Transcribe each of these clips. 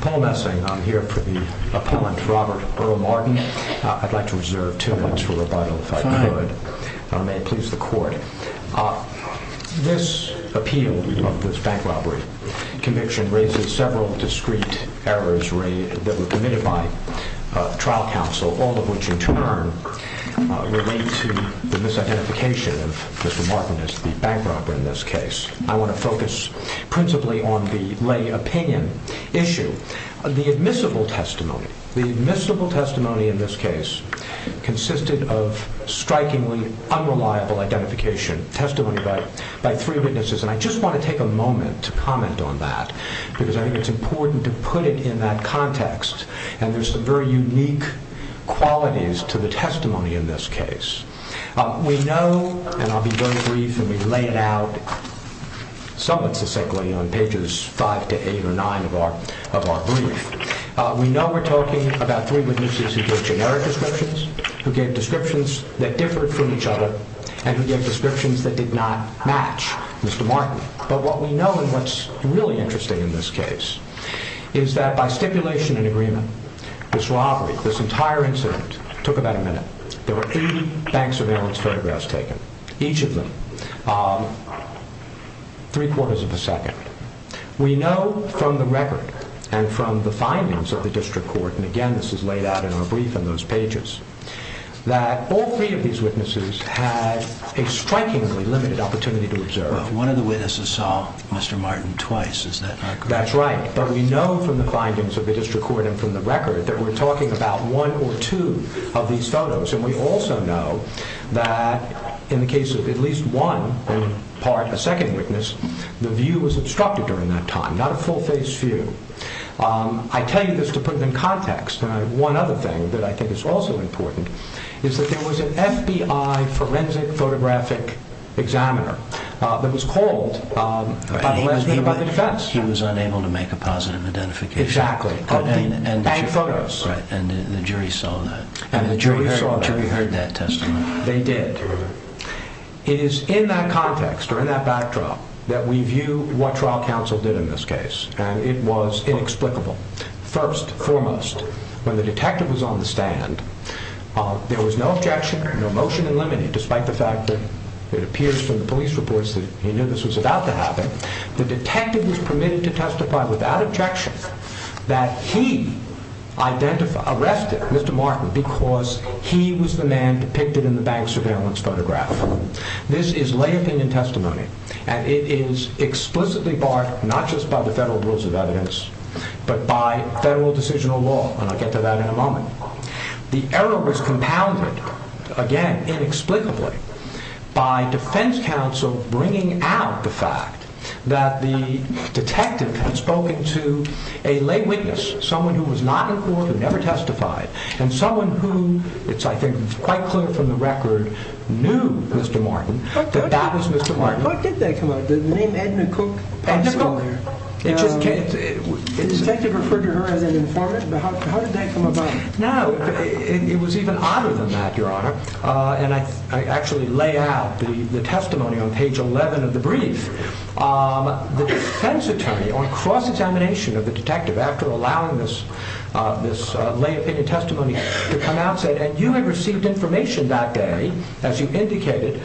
Paul Messing, I'm here for the appellant Robert Earl Martin. I'd like to reserve two minutes for rebuttal if I could. May it please the court. This appeal of this bank robbery, conviction raises several discreet errors that were committed by trial counsel, all of which in turn relate to the misidentification of Mr. Martin as the bank robber in this case. I want to focus principally on the lay opinion issue. The admissible testimony, the admissible testimony in this case consisted of strikingly unreliable identification testimony by three witnesses. And I just want to take a moment to comment on that, because I think it's important to put it in that context. And there's some very unique qualities to the testimony in this case. We know, and I'll be very brief, and we lay it out somewhat succinctly on pages five to eight or nine of our of our brief. We know we're talking about three witnesses who gave generic descriptions, who gave descriptions that differed from each other, and who gave descriptions that did not match Mr. Martin. But what we know, and what's really interesting in this case, is that by stipulation and agreement, this robbery, this entire incident, took about a minute. There were 80 bank surveillance photographs taken, each of them, three quarters of a second. We know from the record and from the findings of the district court, and again this is laid out in our brief on those pages, that all three of these witnesses had a strikingly limited opportunity to observe. One of the witnesses saw Mr. Martin twice, is that correct? That's right, but we know from the findings of the district court and from the record that we're talking about one or two of these photos. And we also know that in the case of at least one, in part, a second witness, the view was obstructed during that time, not a full-face view. I tell you this to put it in context, and one other thing that I think is also important, is that there was an FBI forensic photographic examiner that was called by the defense. He was unable to make a positive identification. Exactly. And photos. And the jury saw that. And the jury heard that testimony. They did. It is in that context, or in that backdrop, that we view what trial counsel did in this case, and it was inexplicable. First, foremost, when the detective was on the stand, there was no objection, no motion in limine, despite the fact that it appears from the police reports that he knew this was about to happen. The detective was permitted to testify without objection that he identified, arrested Mr. Martin because he was the man depicted in the bank surveillance photograph. This is lay opinion testimony, and it is explicitly barred, not just by the federal rules of evidence, but by federal decisional law, and I'll get to that in a moment. The error was compounded, again, inexplicably, by defense counsel bringing out the fact that the detective had spoken to a lay witness, someone who was not in court and never testified, and someone who, it's I think quite clear from the record, knew Mr. Martin, that that was Mr. Martin. How did that come out? The name Edna Cooke? The detective referred to her as an informant, but how did that come about? Now, it was even odder than that, Your Honor, and I actually lay out the testimony on page 11 of the brief. The defense attorney, on cross-examination of the detective, after allowing this lay opinion testimony to come out, said, and you had received information that day, as you indicated,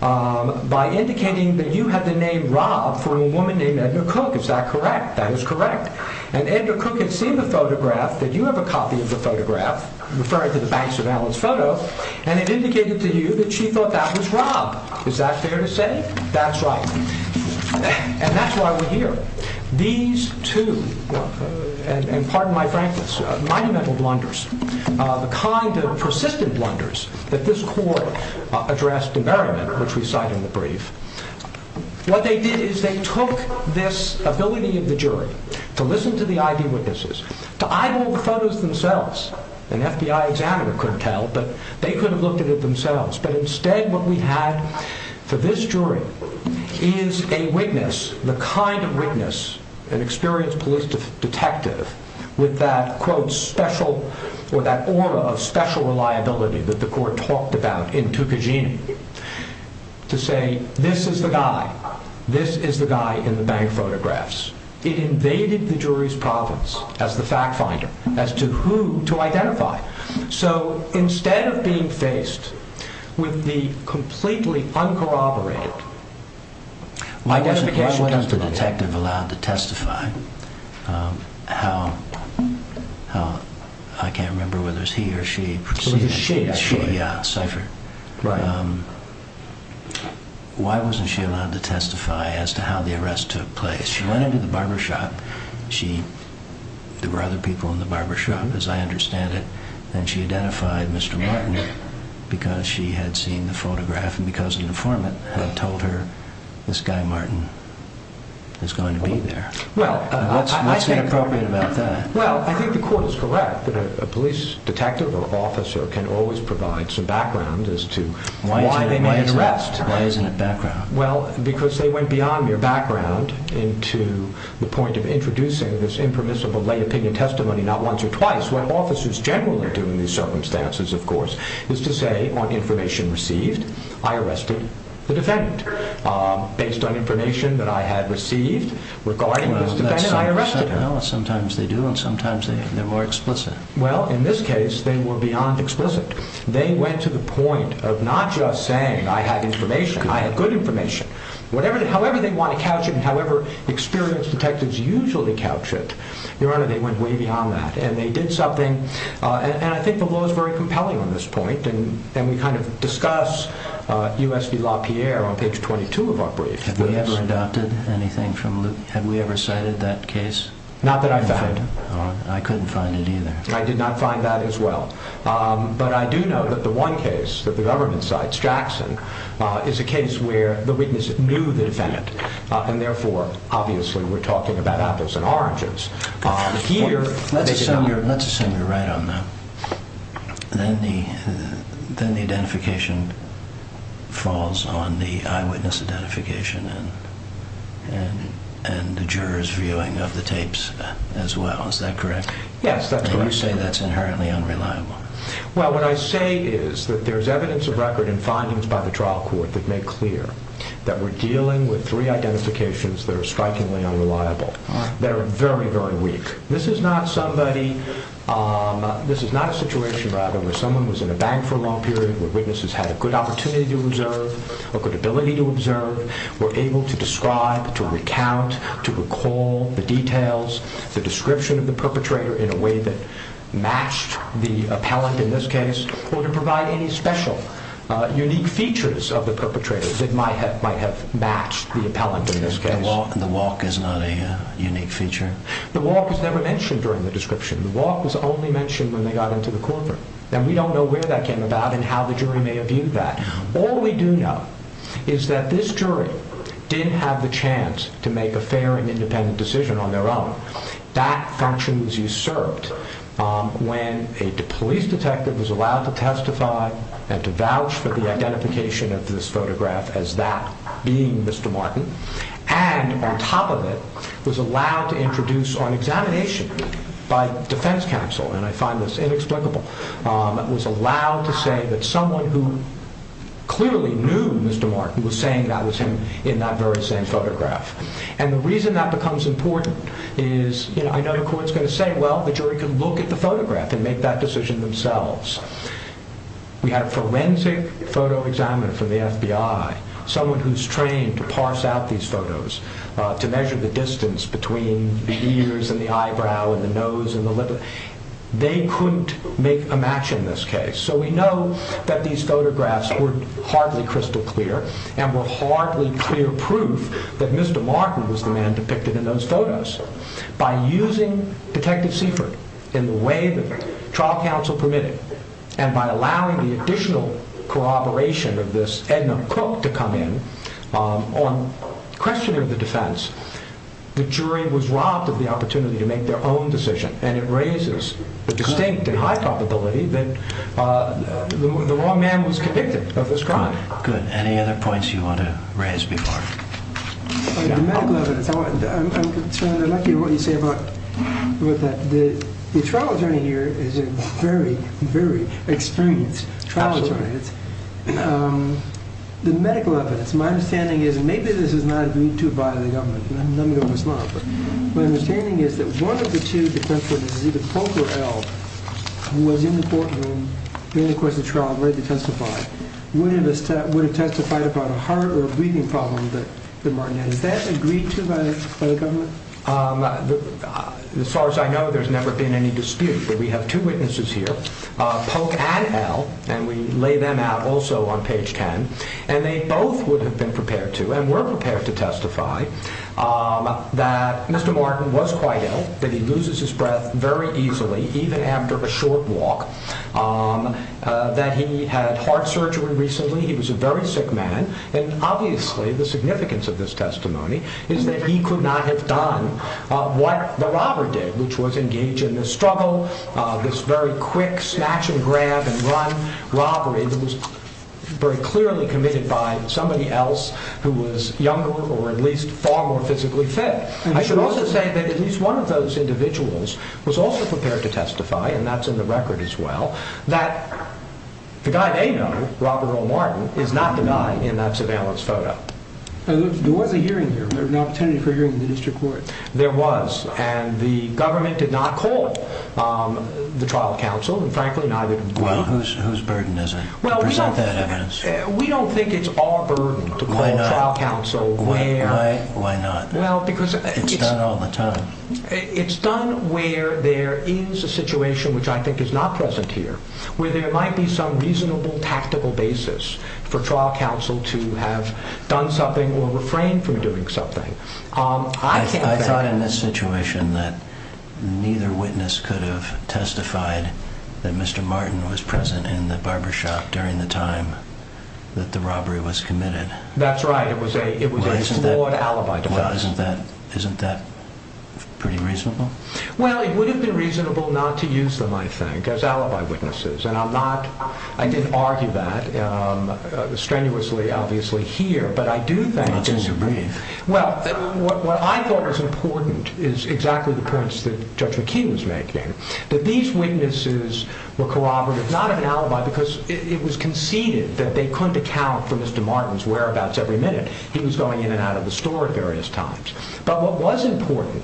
by indicating that you had the name Rob from a woman named Edna Cooke, is that correct? That is correct, and Edna Cooke had seen the photograph, that you have a copy of the photograph, referring to the bank surveillance photo, and it indicated to you that she thought that was Rob. Is that fair to say? That's right, and that's why we're here. These two, and pardon me, I'm going to go back to the court, address demeriment, which we cite in the brief. What they did is they took this ability of the jury to listen to the eyewitnesses, to eyeball the photos themselves. An FBI examiner could tell, but they could have looked at it themselves, but instead what we had for this jury is a witness, the kind of witness, an experienced police detective, with that, quote, special, or that aura of special reliability that the court talked about in Tukajina, to say this is the guy, this is the guy in the bank photographs. It invaded the jury's province as the fact finder, as to who to identify, so instead of being faced with the completely uncorroborated... Why wasn't the detective allowed to testify? How, I can't remember whether it was he or she... It was a she, actually. Yeah, ciphered. Why wasn't she allowed to testify as to how the arrest took place? She went into the barbershop, she, there were other people in the barbershop, as I understand it, and she identified Mr. Martin because she had seen the photograph, and because an informant had told her this guy Martin is going to be there. Well, what's inappropriate about that? Well, I think the court is correct that a police detective or officer can always provide some background as to why they made an arrest. Why isn't it background? Well, because they went beyond mere background into the point of introducing this impermissible lay opinion testimony not once or twice. What officers generally do in these circumstances, of course, is to say on information received, I arrested the defendant. Based on information that I had received regarding this defendant, I arrested her. Sometimes they do, and sometimes they're more explicit. Well, in this case, they were beyond explicit. They went to the point of not just saying I have information, I have good information, however they want to couch it, and however experienced detectives usually couch it. Your Honor, they went way beyond that, and they did something, and I think the law is very on page 22 of our brief. Have we ever adopted anything from Luke? Have we ever cited that case? Not that I found. I couldn't find it either. I did not find that as well, but I do know that the one case that the government cites, Jackson, is a case where the witness knew the defendant, and therefore, obviously, we're talking about apples and oranges. Let's assume you're right on that. Then the identification falls on the eyewitness identification and the juror's viewing of the tapes as well. Is that correct? Yes, that's correct. You say that's inherently unreliable. Well, what I say is that there's evidence of record and findings by the trial court that make clear that we're dealing with three identifications that are strikingly unreliable, that are very, very weak. This is not a situation, rather, where someone was in a bank for a long period, where witnesses had a good opportunity to observe, or good ability to observe, were able to describe, to recount, to recall the details, the description of the perpetrator in a way that matched the appellant in this case, or to provide any special unique features of the perpetrator that might have matched the appellant in this case. The walk is not a unique feature? The walk was never mentioned during the description. The walk was only mentioned when they got into the courtroom, and we don't know where that came about and how the jury may have viewed that. All we do know is that this jury didn't have the chance to make a fair and independent decision on their own. That function was usurped when a police detective was allowed to testify and to vouch for the identification of this photograph as that being Mr. Martin, and on top of it, was allowed to introduce on examination by defense counsel, and I find this inexplicable, was allowed to say that someone who clearly knew Mr. Martin was saying that was him in that very same photograph. And the reason that becomes important is, you know, I know the court's going to say, well, the jury can look at the photograph and make that decision themselves. We had a forensic photo examiner from the FBI, someone who's trained to parse out these photos, to measure the distance between the ears and the eyebrow and the nose and the lip. They couldn't make a match in this case, so we know that these photographs were hardly crystal clear and were hardly clear proof that Mr. Martin was the man depicted in those photos. By using Detective Seifert in the way that trial counsel permitted, and by allowing the additional corroboration of this Edna Cook to come in on questioning of the defense, the jury was robbed of the opportunity to make their own decision, and it raises the distinct and high probability that the wrong man was convicted of this crime. Good. Any other points you want to raise before? Like the medical evidence, I'm concerned, I'd like to hear what you say about what that, the trial attorney here is a very, very experienced trial attorney. The medical evidence, my understanding is, and maybe this is not agreed to by the government, let me know if it's not, but my understanding is that one of the two defense witnesses, either Pope or L, who was in the courtroom during the course of the trial and ready to testify, wouldn't have testified about a heart or a breathing problem that the Martin had. Is that agreed to by the government? As far as I know, there's never been any dispute, but we have two witnesses here, Pope and L, and we lay them out also on page 10, and they both would have been prepared to and were prepared to testify that Mr. Martin was quite ill, that he loses his breath very easily, even after a short walk, that he had heart surgery recently. He was a very sick man. And obviously the significance of this testimony is that he could not have done what the robber did, which was engage in the struggle, this very quick snatch and grab and run robbery that was very clearly committed by somebody else who was younger or at least far more physically fit. I should also say that at was also prepared to testify, and that's in the record as well, that the guy they know, Robert O. Martin, is not the guy in that surveillance photo. There was a hearing here. There was an opportunity for hearing in the district court. There was, and the government did not call the trial counsel, and frankly, neither did we. Well, whose burden is it to present that evidence? We don't think it's our burden to call the trial counsel there. Why not? It's done all the time. It's done where there is a situation, which I think is not present here, where there might be some reasonable tactical basis for trial counsel to have done something or refrain from doing something. I can't say that. I thought in this situation that neither witness could have testified that Mr. Martin was present in the barbershop during the time that the robbery was committed. That's right. It was a flawed alibi to witness. Isn't that pretty reasonable? Well, it would have been reasonable not to use them, I think, as alibi witnesses, and I'm not, I didn't argue that strenuously, obviously, here, but I do think- It's in your brain. Well, what I thought was important is exactly the points that Judge McKee was making, that these witnesses were corroborative, not an alibi, because it was conceded that they couldn't account for Mr. Martin's whereabouts every minute. He was going in and out of the store at various times. But what was important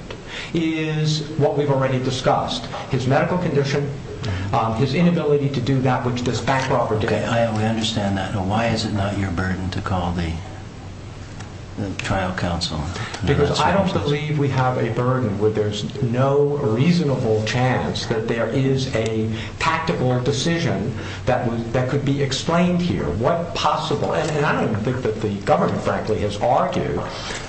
is what we've already discussed, his medical condition, his inability to do that which does backdrop or do anything. I understand that. Now, why is it not your burden to call the trial counsel? Because I don't believe we have a burden where there's no reasonable chance that there is a tactical decision that could be explained here. What possible, and I don't think that the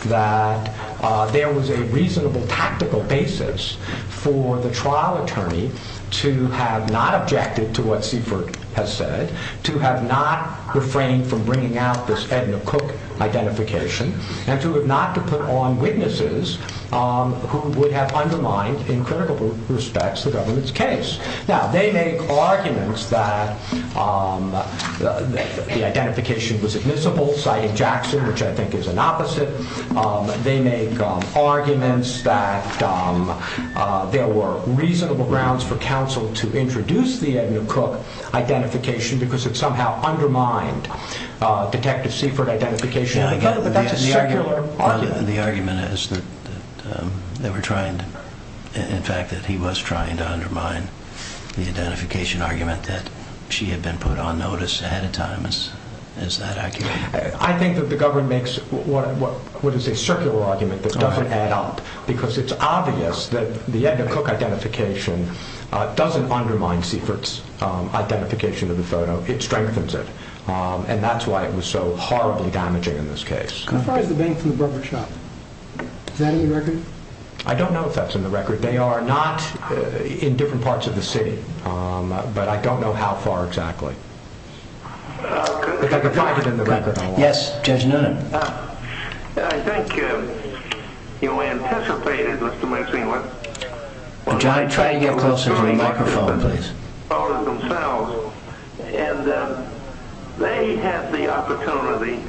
that there was a reasonable tactical basis for the trial attorney to have not objected to what Seifert has said, to have not refrained from bringing out this Edna Cook identification, and to have not to put on witnesses who would have undermined, in critical respects, the government's case. Now, they make arguments that the identification was admissible, citing Jackson, which I think is an opposite. They make arguments that there were reasonable grounds for counsel to introduce the Edna Cook identification because it somehow undermined Detective Seifert identification. But that's a secular argument. The argument is that they were trying to, in fact, that he was trying to undermine the identification argument that she had been put on notice ahead of time. Is that accurate? I think that the government makes what is a circular argument that doesn't add up because it's obvious that the Edna Cook identification doesn't undermine Seifert's identification of the photo. It strengthens it. And that's why it was so horribly damaging in this case. How far is the bank from the barber shop? Is that in the record? I don't know if that's in the record. They are not in different parts of the city, but I don't know how far exactly. Yes, Judge Noonan. I think you anticipated, Mr. Maxinewood. John, try to get closer to the microphone, please. They had the opportunity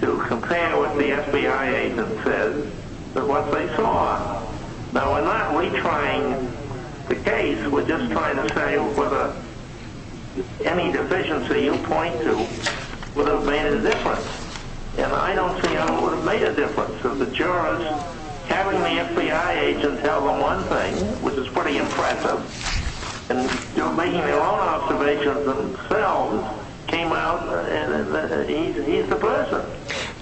to compare what the FBI agent said to what they saw. Now, we're not saying whether any deficiency you point to would have made a difference, and I don't see how it would have made a difference. The jurors having the FBI agent tell them one thing, which is pretty impressive, and making their own observations themselves came out that he's the person.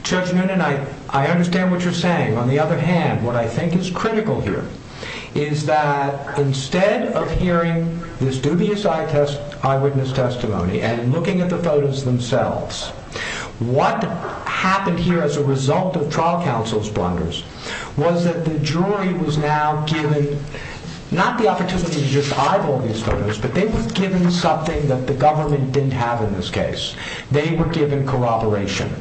Judge Noonan, I understand what you're saying. On the other hand, what I think is critical here is that instead of hearing this dubious eyewitness testimony and looking at the photos themselves, what happened here as a result of trial counsel's blunders was that the jury was now given not the opportunity to just eyeball these photos, but they were given something that the government didn't have in this case. They were given corroboration.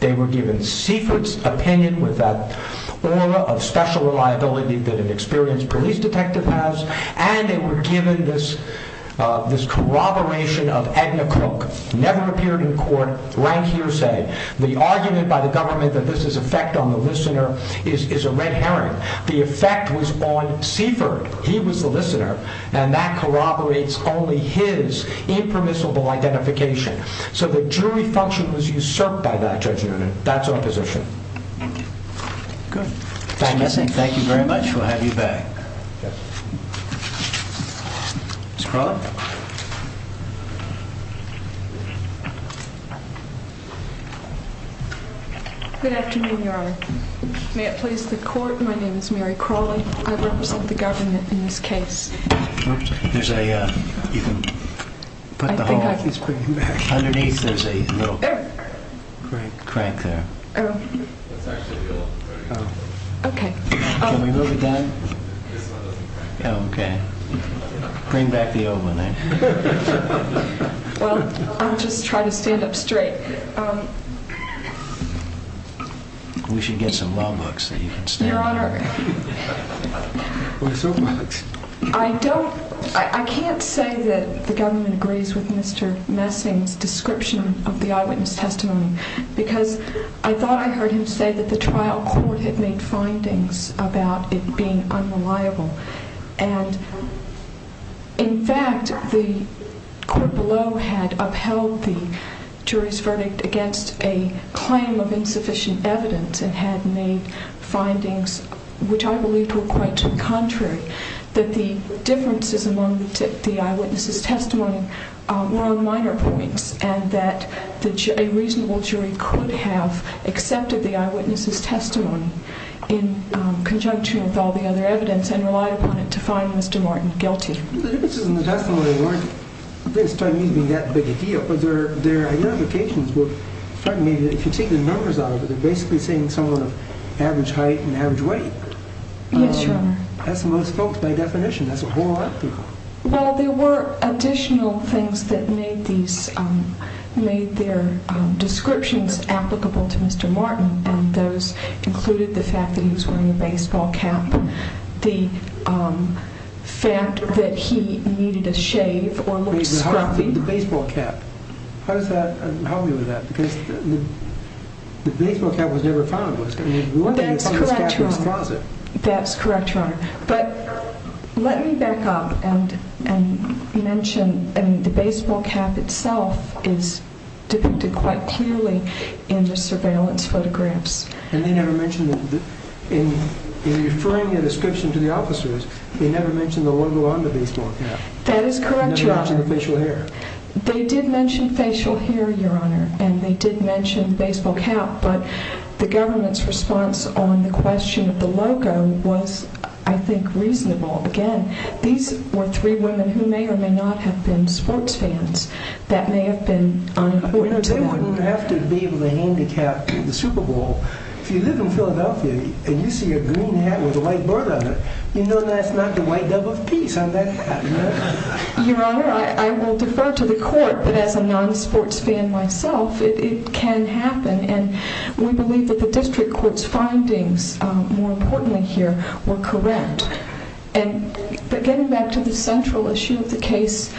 They were given secret opinion with that of special reliability that an experienced police detective has, and they were given this corroboration of Edna Crook, never appeared in court, ran hearsay. The argument by the government that this is effect on the listener is a red herring. The effect was on Seifert. He was the listener, and that corroborates only his impermissible identification. So the jury function was usurped by that, Judge Noonan. That's our position. Thank you very much. We'll have you back. Good afternoon, Your Honor. May it please the court, my name is Mary Crawley. I represent the government in this case. There's a, you can put the whole, underneath there's a little great crank there. Oh, okay. Can we move it down? Okay. Bring back the old one. Well, I'll just try to stand up straight. We should get some law books that you can stand. I don't, I can't say that the government agrees with Mr. Messing's description of the eyewitness testimony, because I thought I heard him say that the trial court had made findings about it being unreliable. And in fact, the court below had upheld the jury's verdict against a claim of insufficient evidence and had made findings, which I believed were quite contrary, that the differences among the eyewitnesses' testimony were on minor points and that a reasonable jury could have accepted the eyewitness's testimony in conjunction with all the other evidence and relied upon it to find Mr. Martin guilty. The differences in the testimony weren't, at this time, even that big a deal, but their identifications were, if you take the numbers out of it, they're basically saying someone of average height and average weight. Yes, Your Honor. That's the most folks, by definition, that's a whole Well, there were additional things that made these, made their descriptions applicable to Mr. Martin, and those included the fact that he was wearing a baseball cap, the fact that he needed a shave or looked scrappy. The baseball cap. How does that help you with that? Because the baseball cap was never found. That's correct, Your Honor. That's correct, Your Honor. But let me back up and mention, I mean, the baseball cap itself is depicted quite clearly in the surveillance photographs. And they never mentioned, in referring a description to the officers, they never mentioned the logo on the baseball cap. That is correct, Your Honor. They never mentioned the facial hair. They did mention facial hair, Your Honor, and they did mention the baseball cap, but the government's response on the question of the logo was, I think, reasonable. Again, these were three women who may or may not have been sports fans. That may have been unimportant to them. They wouldn't have to be able to handicap the Super Bowl. If you live in Philadelphia and you see a green hat with a white bird on it, you know that's not the white dove of peace on that hat. Your Honor, I will defer to the court, but as a non-sports fan myself, it can happen. And we believe that the district court's findings, more importantly here, were correct. But getting back to the central issue of the case,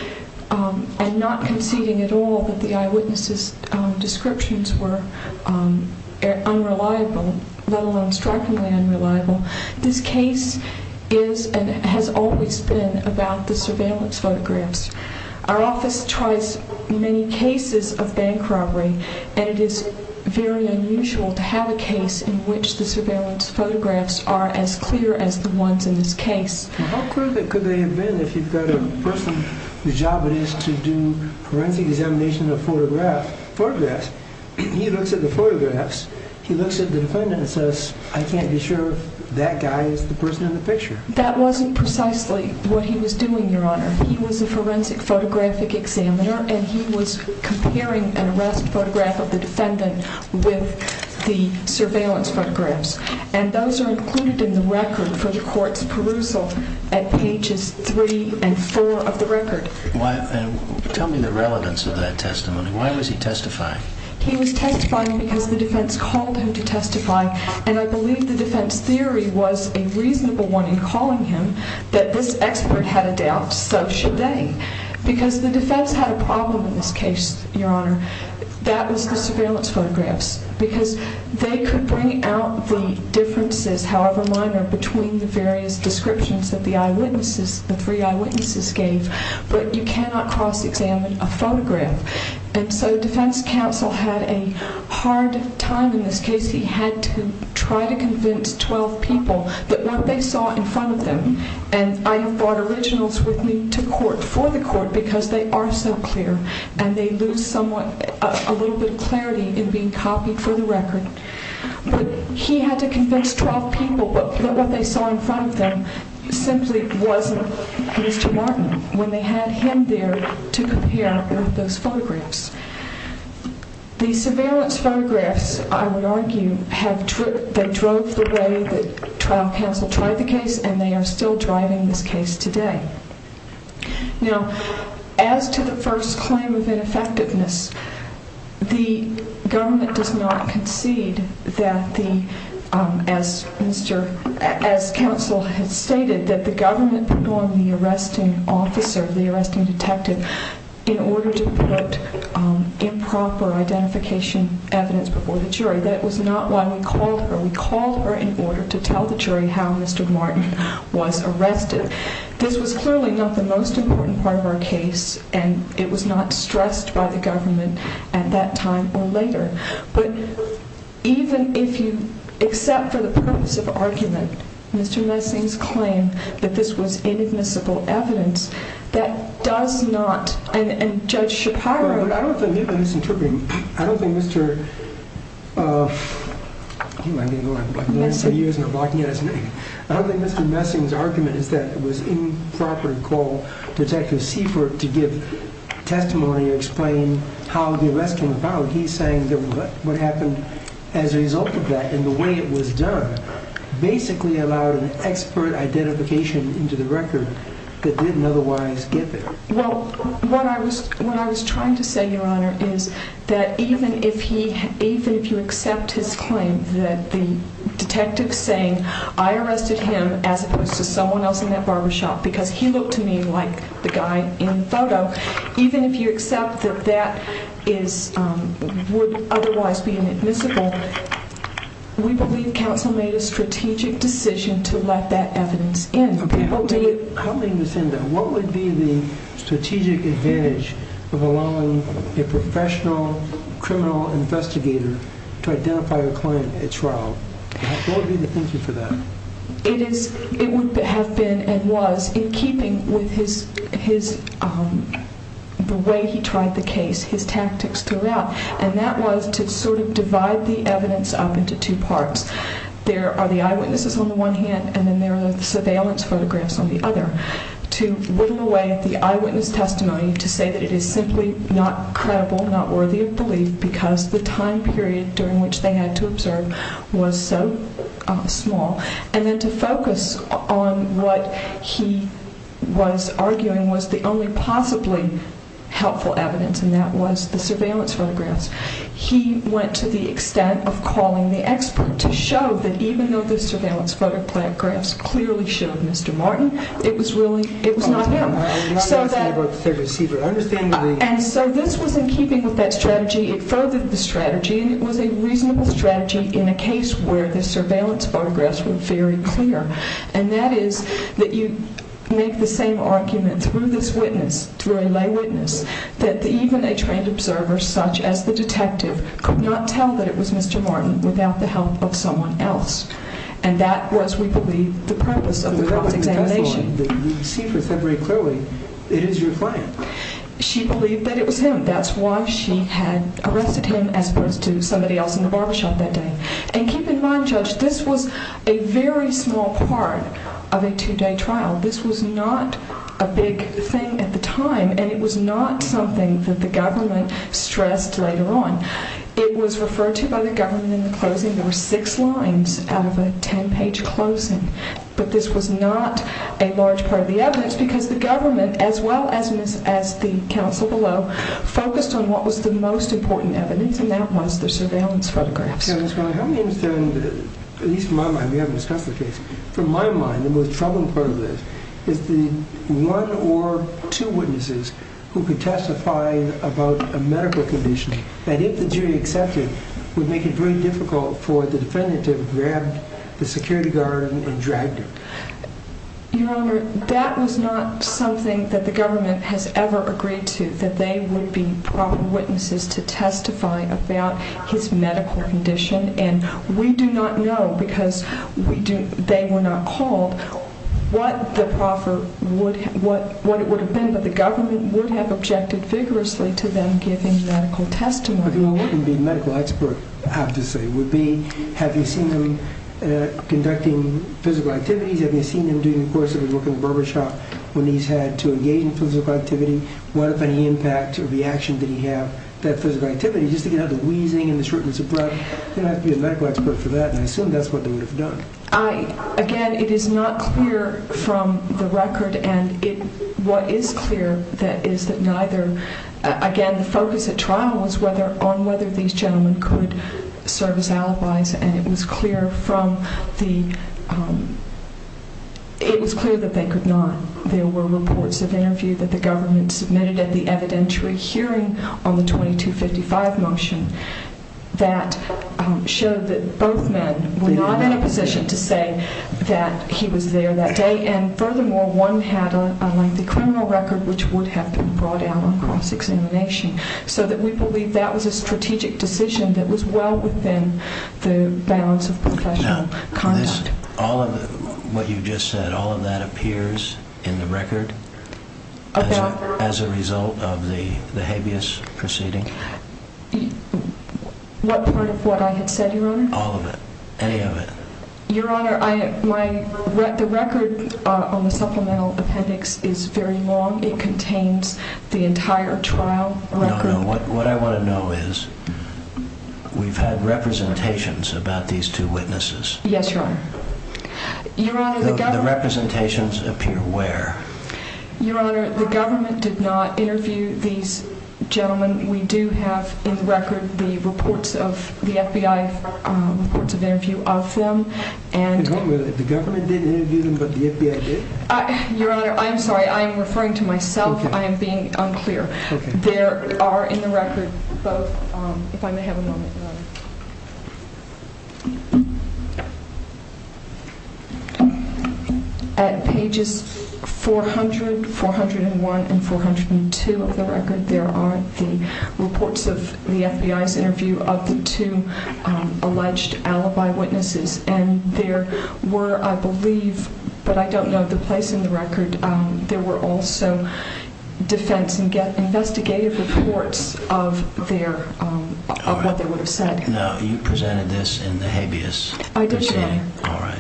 and not conceding at all that the eyewitnesses' descriptions were unreliable, let alone strikingly unreliable, this case is and has always been about the surveillance photographs. Our office tries many cases of unusual to have a case in which the surveillance photographs are as clear as the ones in this case. How clear could they have been if you've got a person whose job it is to do forensic examination of photographs? He looks at the photographs. He looks at the defendant and says, I can't be sure that guy is the person in the picture. That wasn't precisely what he was doing, Your Honor. He was a forensic photographic examiner, and he was comparing an arrest photograph of the defendant with the surveillance photographs. And those are included in the record for the court's perusal at pages three and four of the record. Tell me the relevance of that testimony. Why was he testifying? He was testifying because the defense called him to testify, and I believe the defense theory was a reasonable one in calling him that this expert had a doubt, so should they. Because the defense had a doubt. That was the surveillance photographs, because they could bring out the differences, however minor, between the various descriptions that the eyewitnesses, the three eyewitnesses gave, but you cannot cross-examine a photograph. And so defense counsel had a hard time in this case. He had to try to convince 12 people that what they saw in front of them, and I have brought originals with me to court for the court because they are so clear, and they lose somewhat, a little bit of clarity in being copied for the record. But he had to convince 12 people that what they saw in front of them simply wasn't Mr. Martin when they had him there to compare with those photographs. The surveillance photographs, I would argue, have, they drove the way that trial counsel tried the case, and they are still driving this case today. Now, as to the first claim of ineffectiveness, the government does not concede that the, as counsel had stated, that the government put on the arresting officer, the arresting detective, in order to put improper identification evidence before the jury. That was not why we called her. We called her in order to tell the jury how Mr. Martin was arrested. This was clearly not the most important part of our case, and it was not stressed by the government at that time or later. But even if you, except for the purpose of argument, Mr. Messing's claim that this was inadmissible evidence, that does not, and Judge Shapiro I don't think he's misinterpreting. I don't think Mr. Messing's argument is that it was improper to call Detective Seifert to give testimony or explain how the arrest came about. He's saying that what happened as a result of that and the way it was done basically allowed an expert identification into the record that didn't otherwise get there. Well, when I was trying to say, Your Honor, is that even if you accept his claim that the detective saying, I arrested him as opposed to someone else in that barbershop because he looked to me like the guy in the photo, even if you accept that that would otherwise be inadmissible, we believe counsel made a strategic decision to let that evidence in. How do you understand that? What would be the strategic advantage of allowing a professional criminal investigator to identify a client at trial? What would be the thinking for that? It is, it would have been and was in keeping with his, his, the way he tried the case, his tactics throughout, and that was to sort of divide the evidence up into two parts. There are the eyewitnesses on the one hand and then there are the surveillance photographs on the other to whittle away the eyewitness testimony to say that it is simply not credible, not worthy of belief because the time period during which they had to observe was so small. And then to focus on what he was arguing was the only possibly helpful evidence and that was the evidence that showed that even though the surveillance photographs clearly showed Mr. Martin, it was really, it was not him. And so this was in keeping with that strategy, it furthered the strategy, and it was a reasonable strategy in a case where the surveillance photographs were very clear. And that is that you make the same argument through this witness, through a lay witness, that even a trained observer such as the detective could not that it was Mr. Martin without the help of someone else. And that was, we believe, the purpose of the cross-examination. You see very clearly, it is your client. She believed that it was him. That's why she had arrested him as opposed to somebody else in the barbershop that day. And keep in mind, Judge, this was a very small part of a two-day trial. This was not a big thing at the time and it was not something that the government stressed later on. It was referred to by the government in the closing. There were six lines out of a ten-page closing. But this was not a large part of the evidence because the government, as well as the counsel below, focused on what was the most important evidence and that was the surveillance photographs. So Ms. Miller, help me understand, at least from my mind, we haven't discussed the case. From my mind, the most troubling part of this is the one or two witnesses who could testify about a medical condition that, if the jury accepted, would make it very difficult for the defendant to have grabbed the security guard and dragged him. Your Honor, that was not something that the government has ever agreed to, that they would be proper witnesses to testify about his medical condition. And we do not know, because they were not called, what it would have been, but the government would have objected vigorously to them giving medical testimony. But what would a medical expert have to say? Would it be, have you seen him conducting physical activities? Have you seen him during the course of his work in the barber shop when he's had to engage in physical activity? What, if any, impact or reaction did he have that physical activity? Just to get out the wheezing and the shortness of breath, you'd have to be a medical expert for that, and I assume that's what they would have done. I, again, it is not clear from the record, and it, what is clear, that is that neither, again, the focus at trial was whether, on whether these gentlemen could serve as alibis, and it was clear from the, it was clear that they could not. There were reports of interview that the government submitted at the evidentiary hearing on the 2255 motion, that showed that both men were not in a position to say that he was there that day, and furthermore, one had a lengthy criminal record which would have been brought out on cross-examination, so that we believe that was a strategic decision that was well within the balance of professional conduct. Now, this, all of the, what you just said, all of that appears in the record? As a result of the habeas proceeding? What part of what I had said, Your Honor? All of it, any of it. Your Honor, I, my, the record on the supplemental appendix is very long. It contains the entire trial record. No, no, what I want to know is, we've had representations about these two witnesses. Yes, Your Honor. Your Honor, the government. The representations appear where? Your Honor, the government did not interview these gentlemen. We do have in the record the reports of the FBI, reports of interview of them, and. Wait a minute, the government did interview them, but the FBI didn't? Your Honor, I'm sorry, I am referring to myself. I am being unclear. There are in the record both, if I may have a moment, Your Honor. At pages 400, 401, and 402 of the record, there are the reports of the FBI's interview of the two alleged alibi witnesses, and there were, I believe, but I don't know the place in the investigative reports of their, of what they would have said. Now, you presented this in the habeas. I did, Your Honor. All right.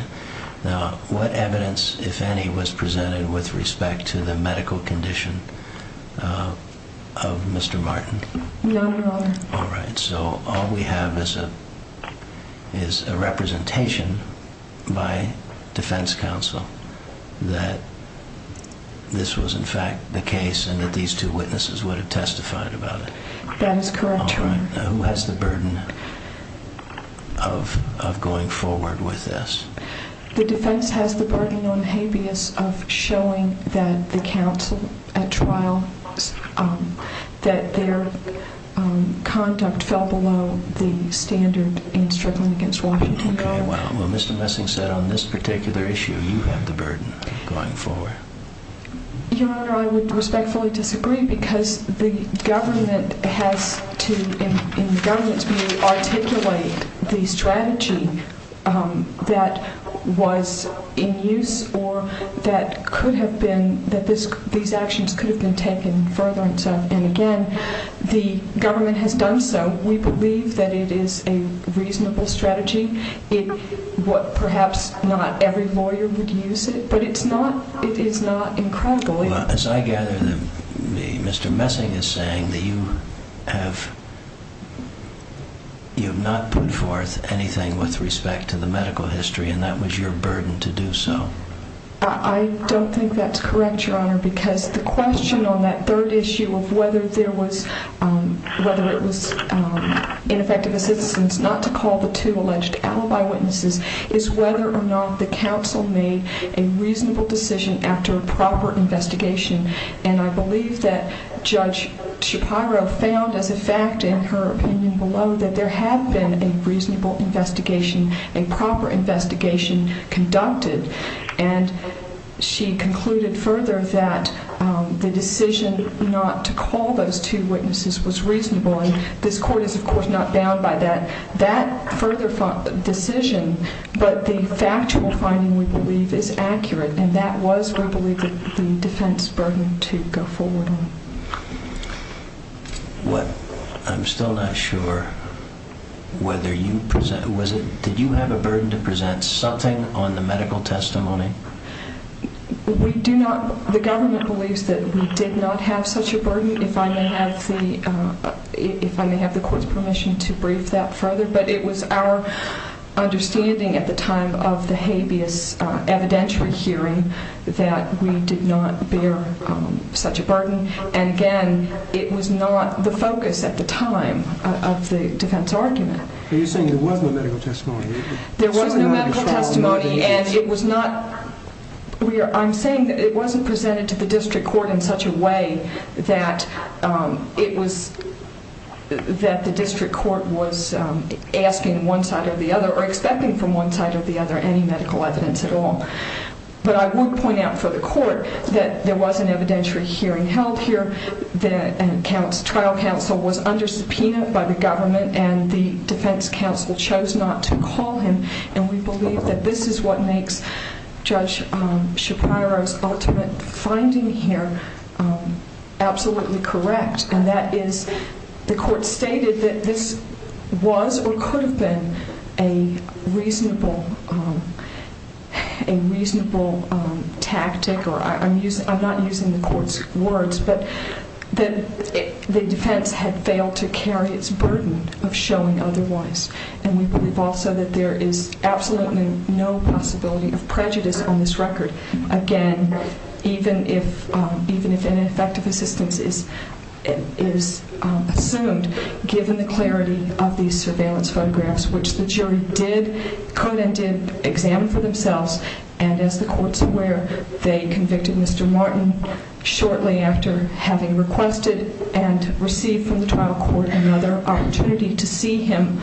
Now, what evidence, if any, was presented with respect to the medical condition of Mr. Martin? None, Your Honor. All right, so all we have is a, representation by defense counsel that this was, in fact, the case, and that these two witnesses would have testified about it. That is correct, Your Honor. All right. Now, who has the burden of going forward with this? The defense has the burden on habeas of showing that the counsel at trial, that their conduct fell below the standard in struggling against Washington. Okay, well, Mr. Messing said on this particular issue, you have the burden of going forward. Your Honor, I would respectfully disagree because the government has to, in government's view, could have been taken further and so, and again, the government has done so. We believe that it is a reasonable strategy. It, what, perhaps not every lawyer would use it, but it's not, it is not incredible. Well, as I gather that Mr. Messing is saying that you have, you have not put forth anything with respect to the medical history, and that was your burden to do so. I don't think that's correct, Your Honor, because the question on that third issue of whether there was, whether it was ineffective assistance not to call the two alleged alibi witnesses is whether or not the counsel made a reasonable decision after a proper investigation, and I believe that Judge Shapiro found as a fact in her opinion below that there had been a reasonable investigation, a proper investigation conducted, and she concluded further that the decision not to call those two witnesses was reasonable, and this Court is, of course, not bound by that, that further decision, but the factual finding, we believe, is accurate, and that was, we believe, the defense burden to go forward on. What I'm still not sure whether you present, was it, did you have a burden to present something on the medical testimony? We do not, the government believes that we did not have such a burden, if I may have the, if I may have the Court's permission to brief that further, but it was our understanding at the time of the habeas evidentiary hearing that we did not bear such a burden, and again, it was not the focus at the time of the defense argument. Are you saying there was no medical testimony? There was no medical testimony, and it was not, we are, I'm saying that it wasn't presented to the district court in such a way that it was, that the district court was asking one side or the other or expecting from one side or the other any medical evidence at all, but I would point out for the Court that there was an evidentiary hearing held here, that trial counsel was under subpoena by the government, and the defense counsel chose not to call him, and we believe that this is what makes Judge Shapiro's ultimate finding here absolutely correct, and that is the Court stated that this was or could have been a reasonable, a reasonable tactic, or I'm using, I'm not using the Court's words, but that the defense had failed to carry its burden of showing otherwise, and we believe also that there is absolutely no possibility of prejudice on this record, again, even if, even if ineffective assistance is, is assumed, given the clarity of these surveillance photographs, which the jury did, could and did examine for themselves, and as the Court's aware, they convicted Mr. Martin shortly after having requested and received from the trial court another opportunity to see him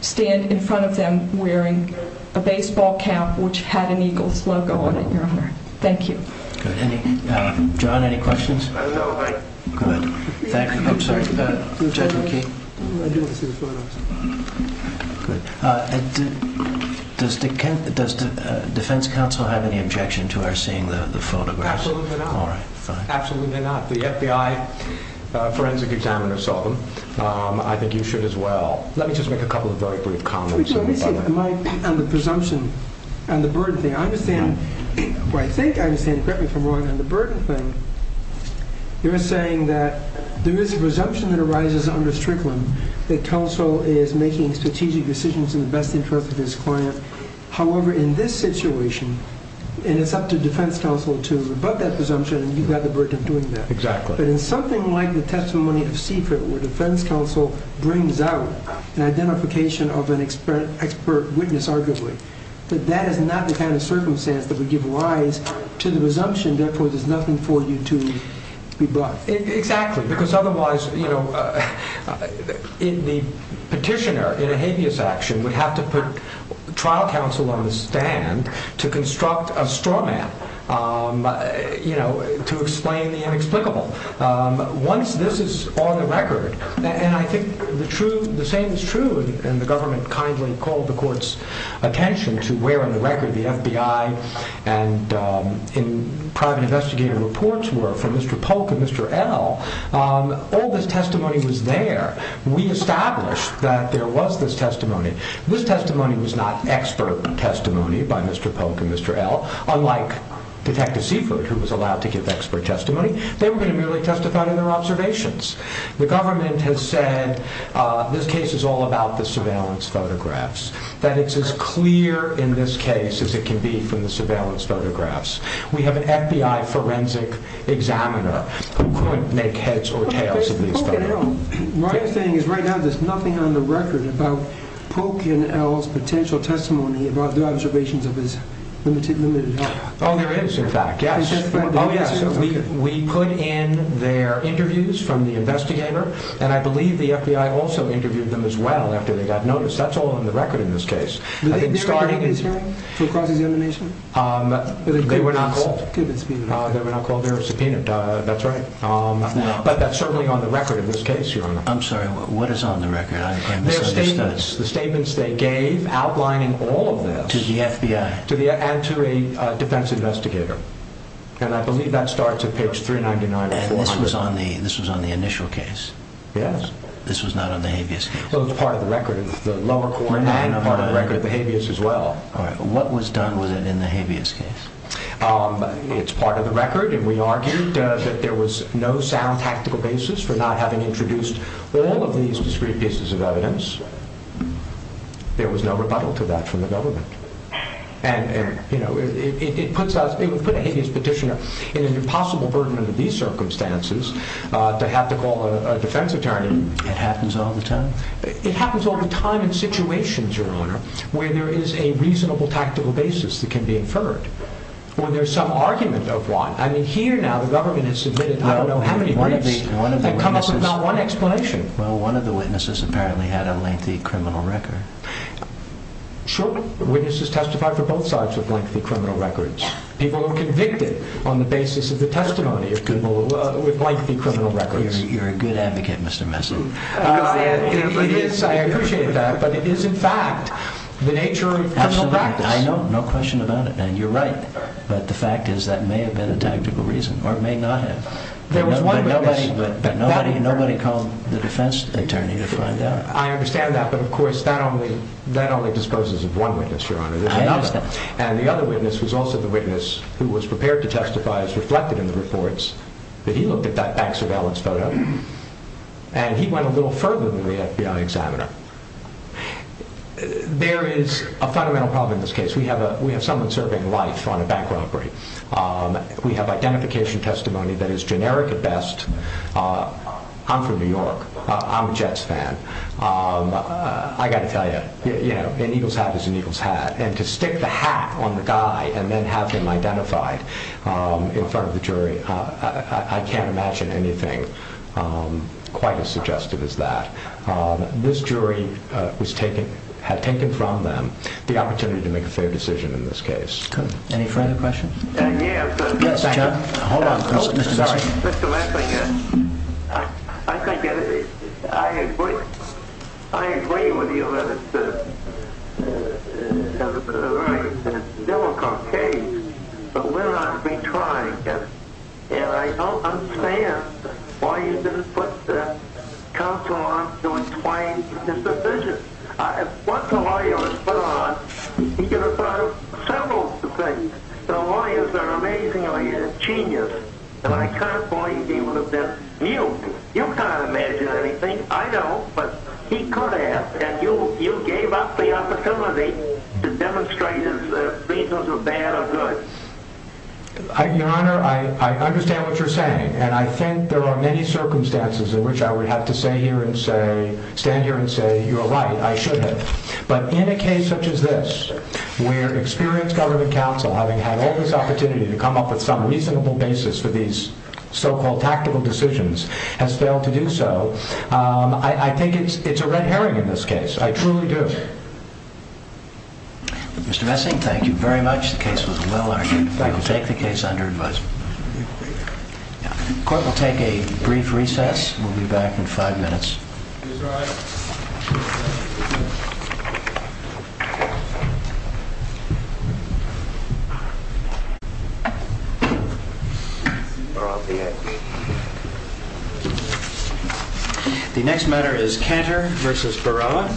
stand in front of them wearing a baseball cap, which had an Eagles logo on it, Your Honor. Thank you. Good. Any, John, any questions? Good. Thank you. I'm sorry. Judge McKee? Good. Does the, does the defense counsel have any objection to our seeing the photographs? Absolutely not. The FBI forensic examiner saw them. I think you should as well. Let me just make a couple of very brief comments. Let me say, am I, on the presumption, on the burden thing, I understand, well, I think I understand correctly from Ron, on the burden thing, you're saying that there is a presumption that arises under Strickland that counsel is making strategic decisions in the best interest of his client. However, in this situation, and it's up to defense counsel to rebut that presumption, and you've got the burden of doing that. Exactly. But in something like the testimony of Seaford, where defense counsel brings out an identification of an expert witness, arguably, that that is not the kind of circumstance that would give rise to the presumption. Therefore, there's nothing for you to be brought. Exactly. Because otherwise, you know, in the petitioner, in a habeas action, would have to put trial counsel on the stand to construct a straw man, you know, to explain the inexplicable. Once this is on the record, and I think the same is true, and the government kindly called the court's attention to where in the record the FBI and private investigator reports were from Mr. Polk and Mr. L. All this testimony was there. We established that there was this testimony. This testimony was not expert testimony by Mr. Polk. They were going to merely testify to their observations. The government has said this case is all about the surveillance photographs, that it's as clear in this case as it can be from the surveillance photographs. We have an FBI forensic examiner who could make heads or tails of these. What I'm saying is right now, there's nothing on the record about Polk and L's potential testimony about the observations of his limited, limited. Oh, there is, in fact, yes. Oh, yes. We put in their interviews from the investigator, and I believe the FBI also interviewed them as well after they got noticed. That's all on the record in this case. I think starting is for cross-examination. They were not called their subpoena. That's right. But that's certainly on the record of this case. You're on. I'm sorry. What is on the record? The statements they gave outlining all of this to the FBI and to a defense investigator, and I believe that starts at page 399. This was on the initial case. Yes. This was not on the habeas case. Well, it's part of the record of the lower court and part of the record of the habeas as well. All right. What was done with it in the habeas case? It's part of the record, and we argued that there was no sound tactical basis for not having introduced all of these discrete pieces of evidence. There was no rebuttal to that from the government. It would put a habeas petitioner in an impossible burden under these circumstances to have to call a defense attorney. It happens all the time? It happens all the time in situations, Your Honor, where there is a reasonable tactical basis that can be inferred, or there's some argument of one. I mean, here now, the government has submitted I don't know how many briefs that come up with not one explanation. Well, one of the witnesses apparently had a lengthy criminal record. Sure. Witnesses testified for both sides with lengthy criminal records. People were convicted on the basis of the testimony of people with lengthy criminal records. You're a good advocate, Mr. Messick. I appreciate that, but it is, in fact, the nature of criminal practice. I know, no question about it, and you're right, but the fact is that may have been a tactical reason or may not have. There was one witness. But nobody called the defense attorney to find out? I understand that, but of course, that only disposes of one witness, Your Honor. And the other witness was also the witness who was prepared to testify as reflected in the reports that he looked at that bank surveillance photo, and he went a little further than the FBI examiner. There is a fundamental problem in this case. We have someone serving life on a bank robbery. We have identification testimony that is generic at best. I'm from New York. I'm a Jets fan. I got to tell you, an eagle's hat is an eagle's hat, and to stick the hat on the guy and then have him identified in front of the jury, I can't imagine anything quite as suggestive as that. This jury had taken from them the opportunity to make a fair decision in this case. Any further questions? Yes, sir. Yes, John. Hold on just a second. Mr. Messing, I agree with you that it's a very difficult case, but we're going to be trying, and I don't understand why you didn't put the counsel on to explain his decision. Once a lawyer is put on, you get to try several things. The lawyers are amazingly genius, and I can't believe he would have been mute. You can't imagine anything. I know, but he could have, and you gave up the opportunity to demonstrate his reasons of bad or good. Your Honor, I understand what you're saying, and I think there are many circumstances in stand here and say, you're right, I should have, but in a case such as this, where experienced government counsel, having had all this opportunity to come up with some reasonable basis for these so-called tactical decisions, has failed to do so, I think it's a red herring in this case. I truly do. Mr. Messing, thank you very much. The case was well argued. We will take the case under advisement. The court will take a brief recess. We'll be back in five minutes. The next matter is Cantor v. Barilla.